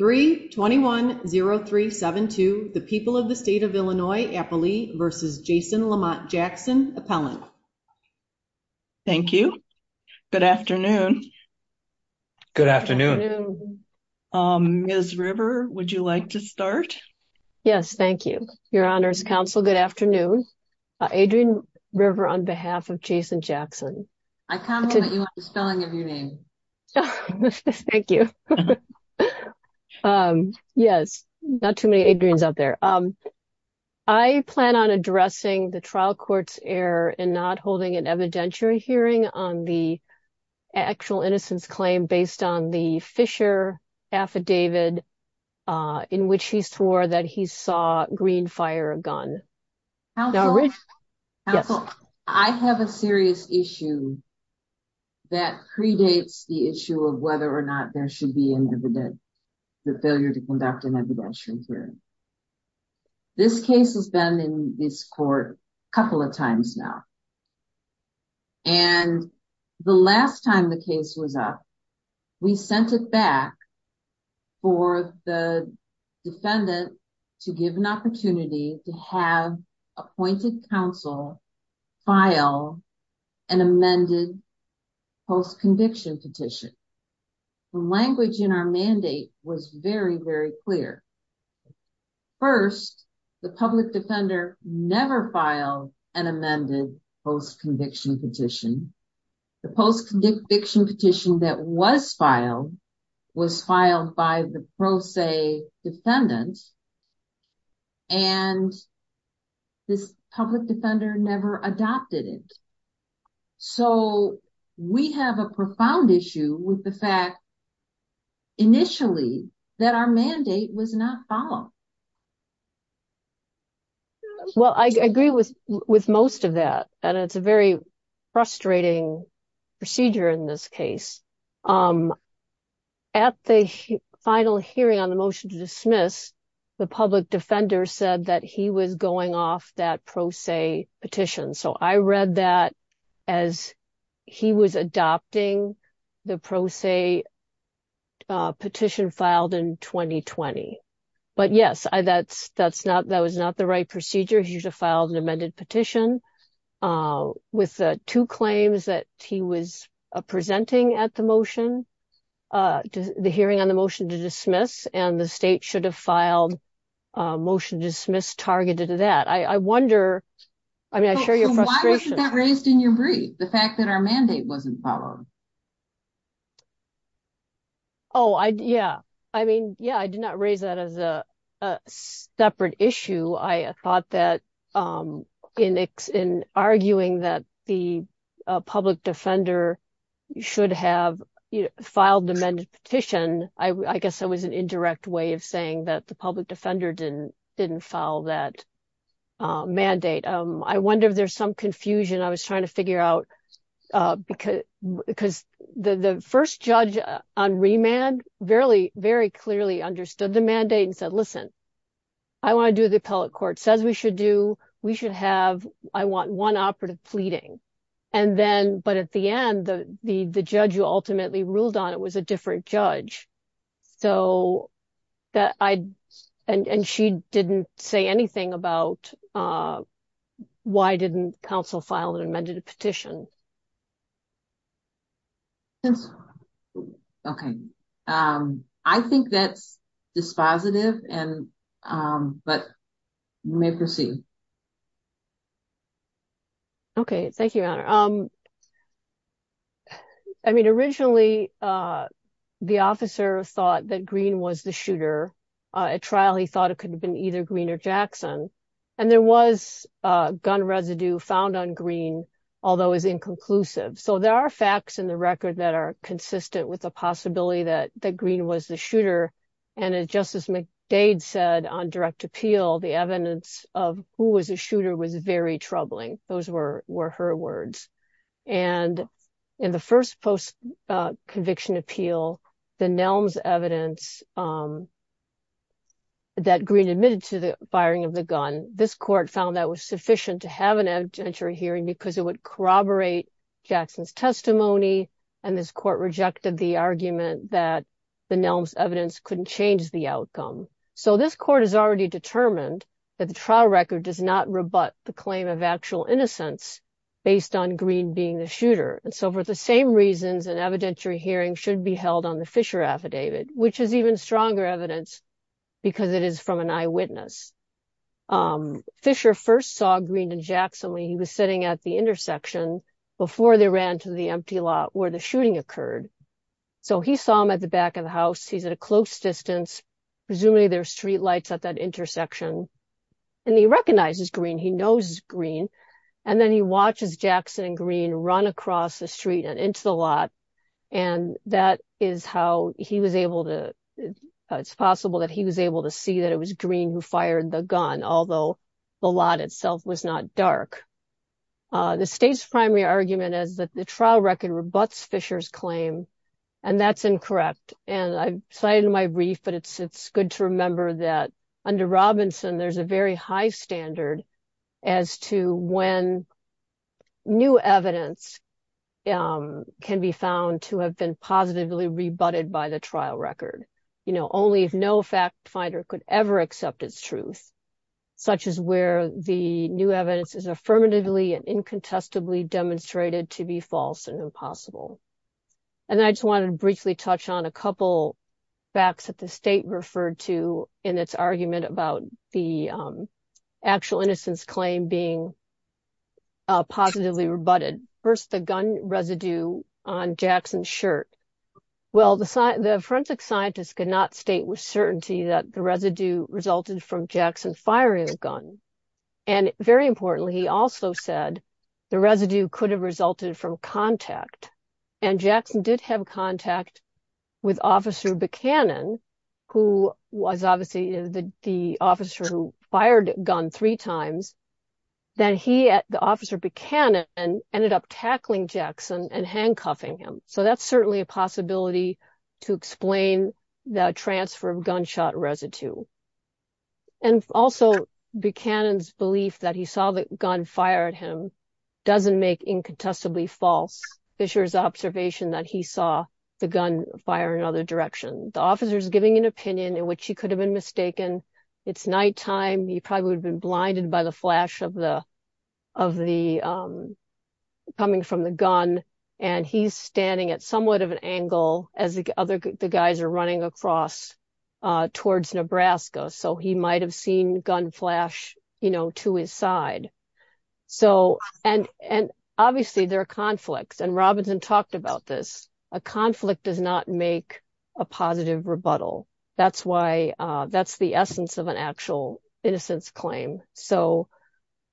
3-21-0372, the people of the state of Illinois, Appalachia v. Jason Lamont Jackson, appellant. Thank you. Good afternoon. Good afternoon. Ms. River, would you like to start? Yes, thank you. Your Honors Counsel, good afternoon. Adrienne River on behalf of Jason Jackson. I comment that you have the spelling of your name. Thank you. Yes, not too many Adrienne's out there. I plan on addressing the trial court's error and not holding an evidentiary hearing on the actual innocence claim based on the Fisher affidavit, in which he swore that he saw green fire a gun. I have a serious issue that predates the issue of whether or not there should be an evidentiary hearing. This case has been in this court, couple of times now. And the last time the case was up. We sent it back for the defendant to give an opportunity to have appointed counsel file an amended post conviction petition. The language in our mandate was very, very clear. First, the public defender never filed an amended post conviction petition. The post conviction petition that was filed was filed by the pro se defendant. And this public defender never adopted it. So, we have a profound issue with the fact. Initially, that our mandate was not follow. Well, I agree with with most of that, and it's a very frustrating procedure in this case. At the final hearing on the motion to dismiss the public defender said that he was going off that pro se petition so I read that as he was adopting the pro se petition filed in 2020. But yes, I that's that's not that was not the right procedure he should have filed an amended petition with two claims that he was presenting at the motion to the hearing on the motion to dismiss and the state should have filed motion dismiss targeted to that I wonder. I mean I share your frustration raised in your brief, the fact that our mandate wasn't followed. Oh, I yeah, I mean, yeah, I did not raise that as a separate issue I thought that in in arguing that the public defender should have filed the petition, I guess it was an indirect way of saying that the public defender didn't didn't follow that mandate. I wonder if there's some confusion I was trying to figure out, because, because the first judge on remand, very, very clearly understood the mandate and said listen, I want to do the appellate court says we should do, we should have, I want one operative pleading. And then, but at the end, the, the, the judge who ultimately ruled on it was a different judge. So, that I, and she didn't say anything about why didn't counsel file an amended petition. Okay. I think that's dispositive and, but may proceed. Okay, thank you. I mean, originally, the officer thought that green was the shooter trial he thought it could have been either greener Jackson, and there was gun residue found on green, although is inconclusive so there are facts in the record that are consistent with the possibility that the green was the shooter, and it justice McDade said on direct appeal the evidence of who was a shooter was very troubling. Those were were her words. And in the first post conviction appeal, the Nelms evidence that green admitted to the firing of the gun, this court found that was sufficient to have an adventure hearing because it would corroborate Jackson's testimony. And this court rejected the argument that the Nelms evidence couldn't change the outcome. So this court has already determined that the trial record does not rebut the claim of actual innocence, based on green being the shooter and so forth. The same reasons and evidentiary hearing should be held on the Fisher affidavit, which is even stronger evidence, because it is from an eyewitness. Fisher first saw green and Jackson when he was sitting at the intersection before they ran to the empty lot where the shooting occurred. So he saw him at the back of the house, he's at a close distance. Presumably their streetlights at that intersection. And he recognizes green, he knows green. And then he watches Jackson and green run across the street and into the lot. And that is how he was able to, it's possible that he was able to see that it was green who fired the gun, although the lot itself was not dark. The state's primary argument is that the trial record rebuts Fisher's claim. And that's incorrect. And I cited in my brief, but it's good to remember that under Robinson, there's a very high standard as to when new evidence can be found to have been positively rebutted by the trial record. You know, only if no fact finder could ever accept its truth, such as where the new evidence is affirmatively and incontestably demonstrated to be false and impossible. And I just wanted to briefly touch on a couple facts that the state referred to in its argument about the actual innocence claim being positively rebutted. First, the gun residue on Jackson's shirt. Well, the forensic scientists could not state with certainty that the residue resulted from Jackson firing a gun. And very importantly, he also said the residue could have resulted from contact. And Jackson did have contact with Officer Buchanan, who was obviously the officer who fired a gun three times, that he, the officer Buchanan, ended up tackling Jackson and handcuffing him. So that's certainly a possibility to explain the transfer of gunshot residue. And also Buchanan's belief that he saw the gun fire at him doesn't make incontestably false Fisher's observation that he saw the gun fire in other direction. The officer is giving an opinion in which he could have been mistaken. It's nighttime. He probably would have been blinded by the flash of the of the coming from the gun. And he's standing at somewhat of an angle as the other guys are running across towards Nebraska. So he might have seen gun flash, you know, to his side. So and and obviously there are conflicts and Robinson talked about this. A conflict does not make a positive rebuttal. That's why that's the essence of an actual innocence claim. So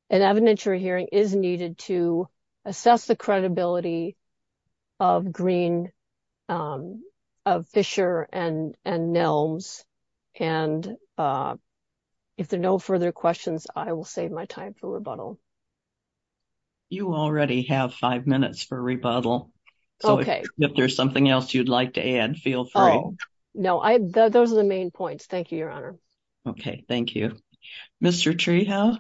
an evidentiary hearing is needed to assess the credibility of Green, of Fisher and Nelms. And if there are no further questions, I will save my time for rebuttal. You already have five minutes for rebuttal. Okay, if there's something else you'd like to add, feel free. No, I, those are the main points. Thank you, Your Honor. Okay, thank you, Mr. Treehouse.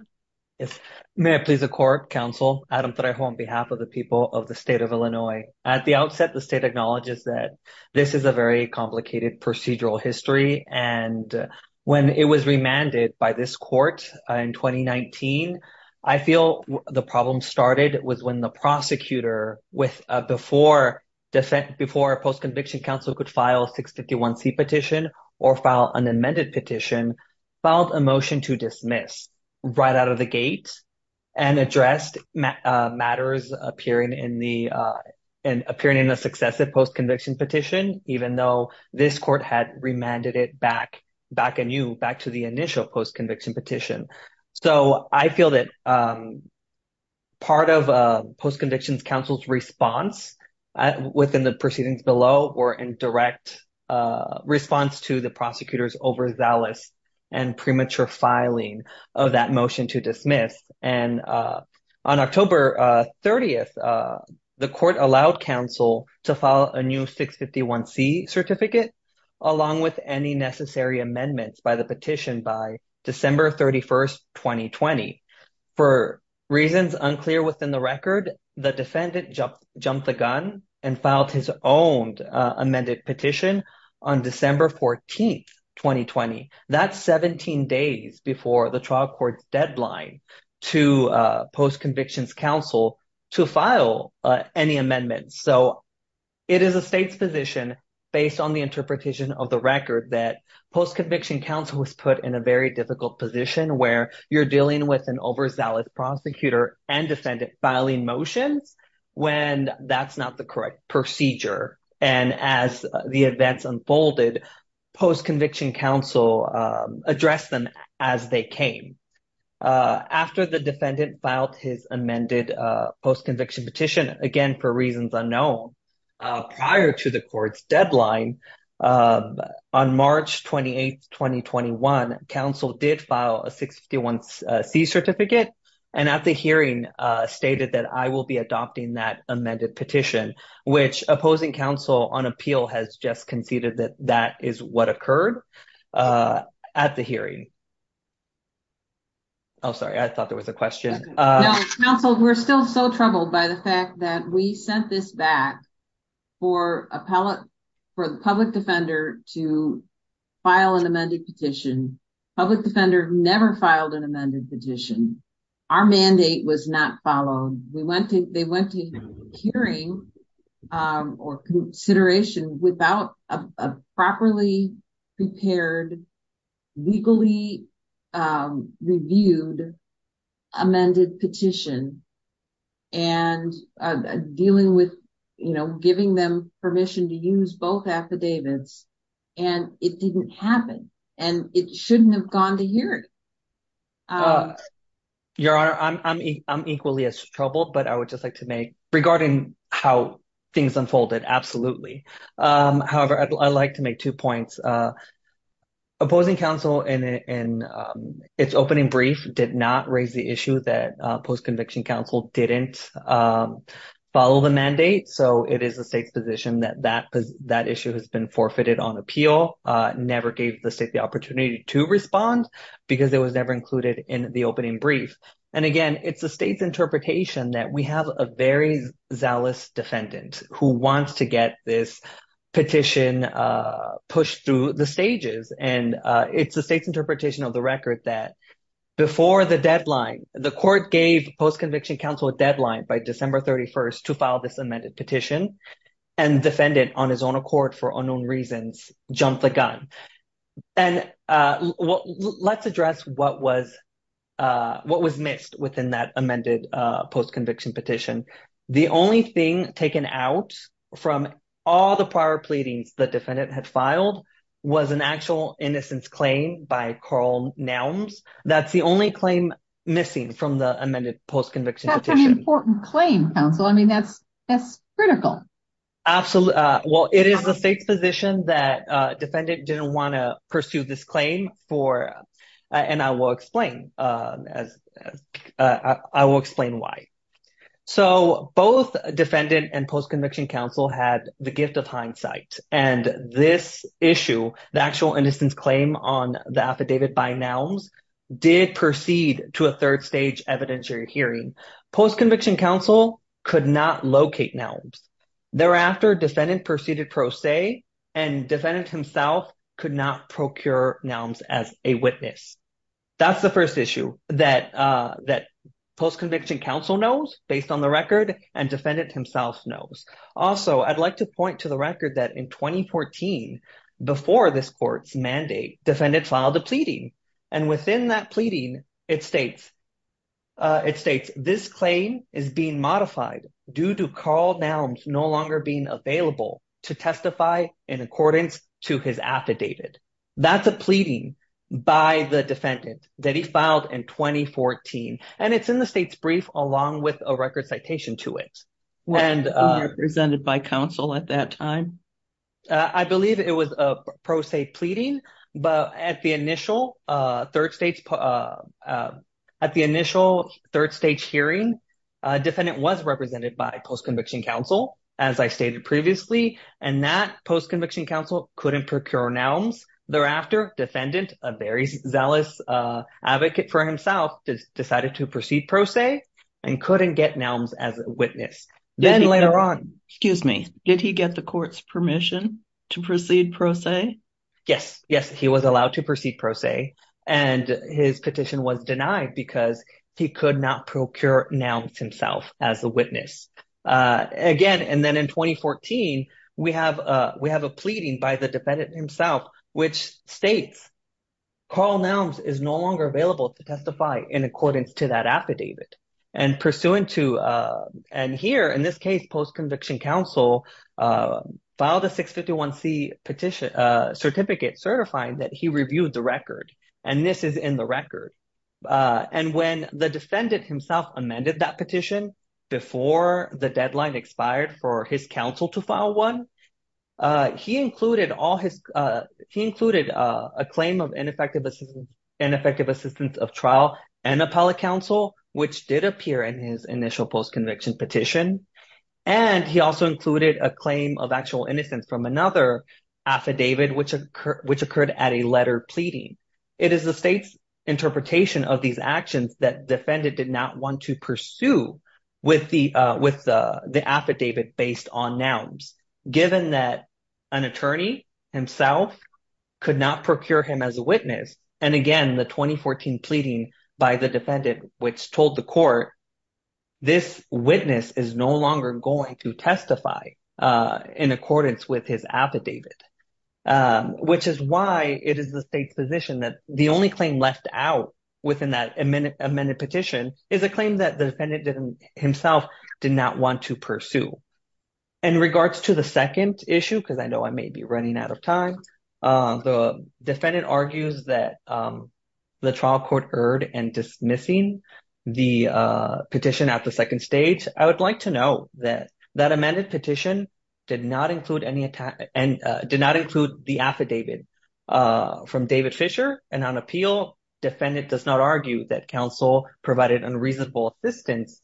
Yes, may I please a court counsel Adam that I home behalf of the people of the state of Illinois. At the outset, the state acknowledges that this is a very complicated procedural history. And when it was remanded by this court in 2019, I feel the problem started was when the prosecutor with before defense before post conviction counsel could file 651 C petition or file an amended petition filed a motion to dismiss right out of the gate. And addressed matters appearing in the and appearing in a successive post conviction petition, even though this court had remanded it back back and you back to the initial post conviction petition. So, I feel that part of post convictions counsel's response within the proceedings below or in direct response to the prosecutors overzealous and premature filing of that motion to dismiss. And on October 30 the court allowed counsel to follow a new 651 C certificate, along with any necessary amendments by the petition by December 31 2020. For reasons unclear within the record, the defendant jumped the gun and filed his own amended petition on December 14 2020 that's 17 days before the trial court deadline to post convictions counsel to file any amendments. So, it is a state's position based on the interpretation of the record that post conviction counsel was put in a very difficult position where you're dealing with an overzealous prosecutor and defendant filing motions when that's not the correct procedure. And as the events unfolded post conviction counsel address them as they came after the defendant filed his amended post conviction petition again for reasons unknown prior to the court's deadline. On March 28 2021 counsel did file a 61 C certificate and at the hearing stated that I will be adopting that amended petition, which opposing counsel on appeal has just conceded that that is what occurred at the hearing. Oh, sorry I thought there was a question. We're still so troubled by the fact that we sent this back for appellate for the public defender to file an amended petition public defender never filed an amended petition. Our mandate was not followed, we went to, they went to hearing or consideration without a properly prepared legally reviewed amended petition and dealing with, you know, giving them permission to use both affidavits, and it didn't happen, and it shouldn't have gone to hear it. Your honor, I'm equally as troubled but I would just like to make regarding how things unfolded. Absolutely. However, I'd like to make two points opposing counsel and its opening brief did not raise the issue that post conviction counsel didn't follow the mandate so it is the state's position that that that issue has been forfeited on appeal. Never gave the state the opportunity to respond, because it was never included in the opening brief. And again, it's the state's interpretation that we have a very zealous defendant who wants to get this petition pushed through the stages and it's the state's interpretation of the record that before the deadline. The court gave post conviction counsel a deadline by December 31st to file this amended petition and defendant on his own accord for unknown reasons, jump the gun. And let's address what was what was missed within that amended post conviction petition. The only thing taken out from all the prior pleadings that defendant had filed was an actual innocence claim by Carl nouns. That's the only claim missing from the amended post conviction petition claim. So, I mean, that's that's critical. Absolutely. Well, it is the state's position that defendant didn't want to pursue this claim for and I will explain as I will explain why. So both defendant and post conviction counsel had the gift of hindsight and this issue, the actual innocence claim on the affidavit by nouns did proceed to a third stage evidentiary hearing post conviction counsel could not locate nouns. Thereafter defendant proceeded pro se and defendant himself could not procure nouns as a witness. That's the first issue that that post conviction counsel knows based on the record and defendant himself knows. Also, I'd like to point to the record that in 2014. And it's in the state's brief, along with a record citation to it and presented by counsel at that time. I believe it was a pro se pleading, but at the initial third states at the initial third stage hearing defendant was represented by post conviction counsel, as I stated previously, and that post conviction counsel couldn't procure nouns. Thereafter, defendant, a very zealous advocate for himself decided to proceed pro se and couldn't get nouns as a witness. Then later on, excuse me, did he get the court's permission to proceed pro se? Yes, yes, he was allowed to proceed pro se and his petition was denied because he could not procure nouns himself as a witness again. And then in 2014, we have we have a pleading by the defendant himself, which states. Carl nouns is no longer available to testify in accordance to that affidavit and pursuant to and here in this case, post conviction counsel filed a 651 C petition certificate certifying that he reviewed the record and this is in the record. And when the defendant himself amended that petition before the deadline expired for his counsel to file one, he included all his he included a claim of ineffective and effective assistance of trial and appellate counsel, which did appear in his initial post conviction petition. And he also included a claim of actual innocence from another affidavit, which which occurred at a letter pleading. It is the state's interpretation of these actions that defendant did not want to pursue with the with the affidavit based on nouns. Given that an attorney himself could not procure him as a witness. And again, the 2014 pleading by the defendant, which told the court this witness is no longer going to testify in accordance with his affidavit. Which is why it is the state's position that the only claim left out within that a minute a minute petition is a claim that the defendant didn't himself did not want to pursue in regards to the second issue. Because I know I may be running out of time. The defendant argues that the trial court heard and dismissing the petition at the second stage, I would like to know that that amended petition did not include any and did not include the affidavit from David Fisher. And on appeal, defendant does not argue that counsel provided unreasonable assistance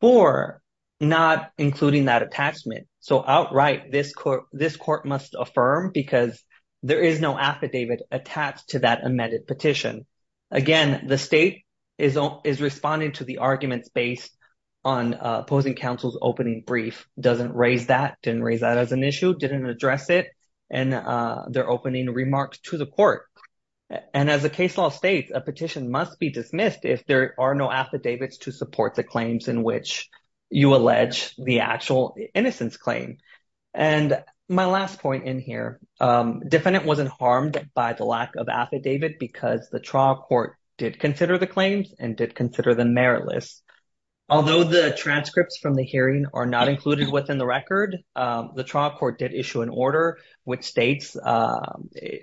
for not including that attachment. So outright this court, this court must affirm because there is no affidavit attached to that amended petition. And as the case law states, a petition must be dismissed if there are no affidavits to support the claims in which you allege the actual innocence claim. And my last point in here, defendant wasn't harmed by the lack of affidavit because the trial court did consider the claims and did consider them meritless. Although the transcripts from the hearing are not included within the record, the trial court did issue an order, which states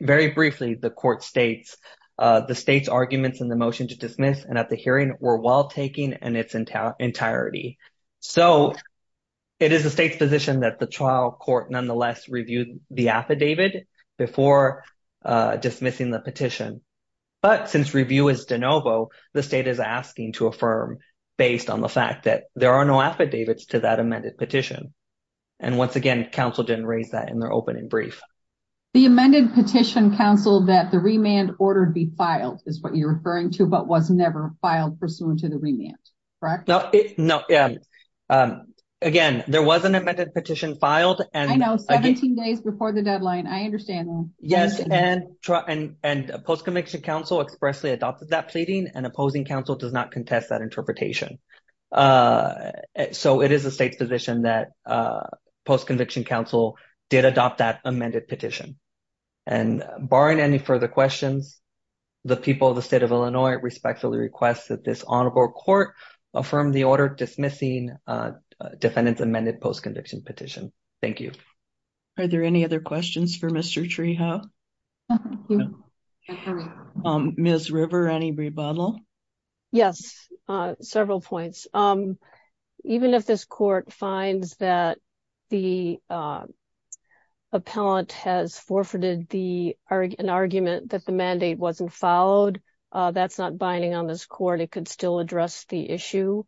very briefly. The court states the state's arguments in the motion to dismiss and at the hearing were well taken in its entirety. So it is the state's position that the trial court nonetheless reviewed the affidavit before dismissing the petition. But since review is de novo, the state is asking to affirm based on the fact that there are no affidavits to that amended petition. And once again, counsel didn't raise that in their opening brief. The amended petition counsel that the remand order be filed is what you're referring to, but was never filed pursuant to the remand. No, no. Yeah. Again, there was an amended petition filed and I know 17 days before the deadline. I understand. Yes. And and post conviction counsel expressly adopted that pleading and opposing counsel does not contest that interpretation. So it is the state's position that post conviction counsel did adopt that amended petition. And barring any further questions, the people of the state of Illinois respectfully request that this honorable court affirm the order dismissing defendants amended post conviction petition. Thank you. Are there any other questions for Mr. Treehough? Ms. River, any rebuttal? Yes, several points. Even if this court finds that the appellant has forfeited the argument that the mandate wasn't followed, that's not binding on this court, it could still address the issue.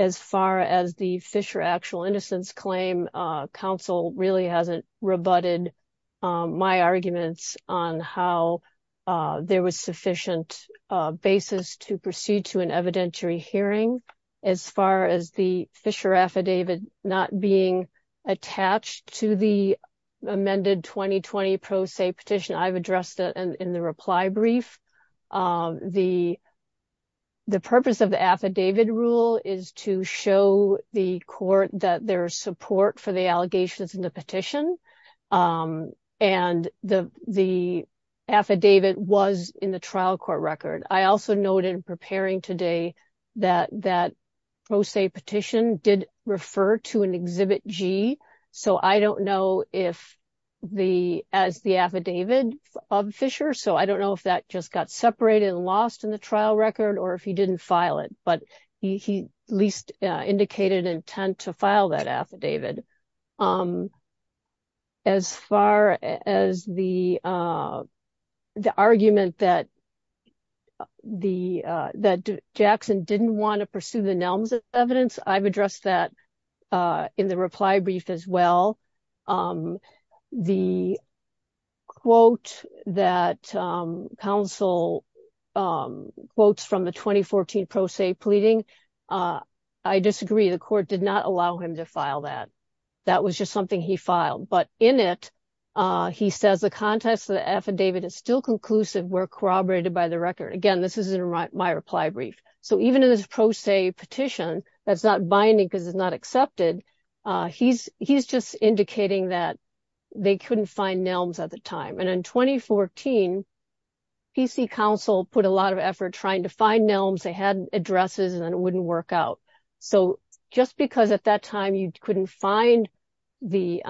As far as the Fisher actual innocence claim, counsel really hasn't rebutted my arguments on how there was sufficient basis to proceed to an evidentiary hearing. As far as the Fisher affidavit not being attached to the amended 2020 pro se petition, I've addressed it in the reply brief. The purpose of the affidavit rule is to show the court that there is support for the allegations in the petition. And the affidavit was in the trial court record. I also noted in preparing today that that pro se petition did refer to an exhibit G. So I don't know if the as the affidavit of Fisher, so I don't know if that just got separated and lost in the trial record or if he didn't file it, but he least indicated intent to file that affidavit. As far as the argument that Jackson didn't want to pursue the Nelms evidence, I've addressed that in the reply brief as well. The quote that counsel quotes from the 2014 pro se pleading. I disagree. The court did not allow him to file that. That was just something he filed. But in it, he says the context of the affidavit is still conclusive were corroborated by the record. Again, this isn't my reply brief. So even in this pro se petition, that's not binding because it's not accepted. He's just indicating that they couldn't find Nelms at the time. And in 2014, PC counsel put a lot of effort trying to find Nelms. They had addresses and it wouldn't work out. So just because at that time you couldn't find the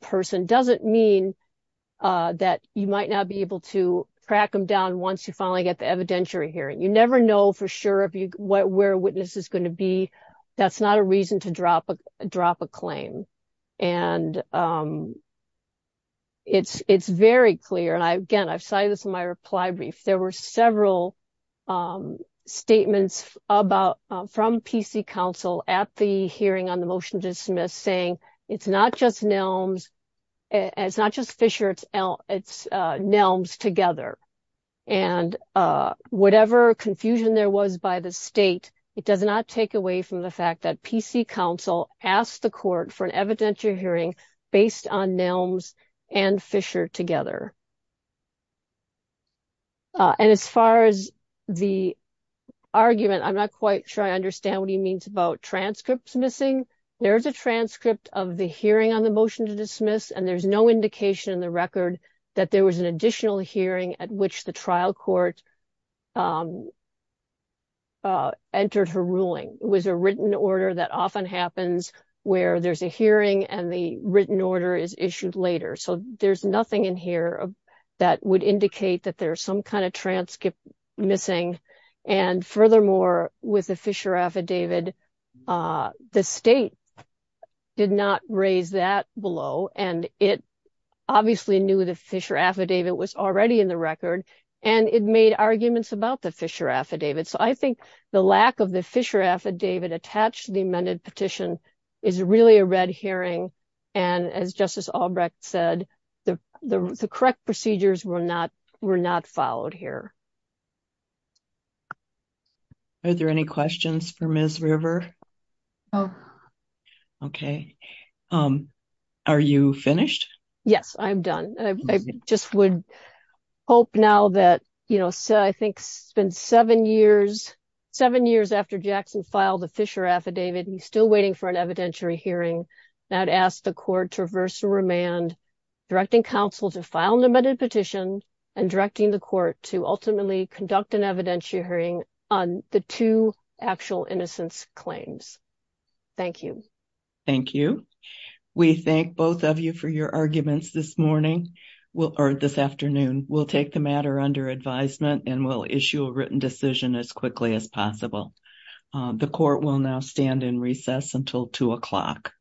person doesn't mean that you might not be able to crack them down once you finally get the evidentiary hearing. You never know for sure where a witness is going to be. That's not a reason to drop a claim. And it's it's very clear. And again, I've cited this in my reply brief. There were several statements about from PC counsel at the hearing on the motion to dismiss, saying it's not just Nelms. It's not just Fisher. It's Nelms together. And whatever confusion there was by the state, it does not take away from the fact that PC counsel asked the court for an evidentiary hearing based on Nelms and Fisher together. And as far as the argument, I'm not quite sure I understand what he means about transcripts missing. There's a transcript of the hearing on the motion to dismiss, and there's no indication in the record that there was an additional hearing at which the trial court. Entered her ruling was a written order that often happens where there's a hearing and the written order is issued later. So there's nothing in here that would indicate that there's some kind of transcript missing. And furthermore, with the Fisher affidavit, the state did not raise that below, and it obviously knew the Fisher affidavit was already in the record, and it made arguments about the Fisher affidavit. So I think the lack of the Fisher affidavit attached to the amended petition is really a red herring. And as Justice Albrecht said, the correct procedures were not followed here. Are there any questions for Ms. River? Okay. Are you finished? Yes, I'm done. I just would hope now that, you know, so I think it's been seven years, seven years after Jackson filed the Fisher affidavit, he's still waiting for an evidentiary hearing that asked the court to reverse the remand, directing counsel to file an amended petition and directing the court to ultimately conduct an evidentiary hearing on the two actual innocence claims. Thank you. Thank you. We thank both of you for your arguments this morning, or this afternoon. We'll take the matter under advisement and we'll issue a written decision as quickly as possible. The court will now stand in recess until two o'clock.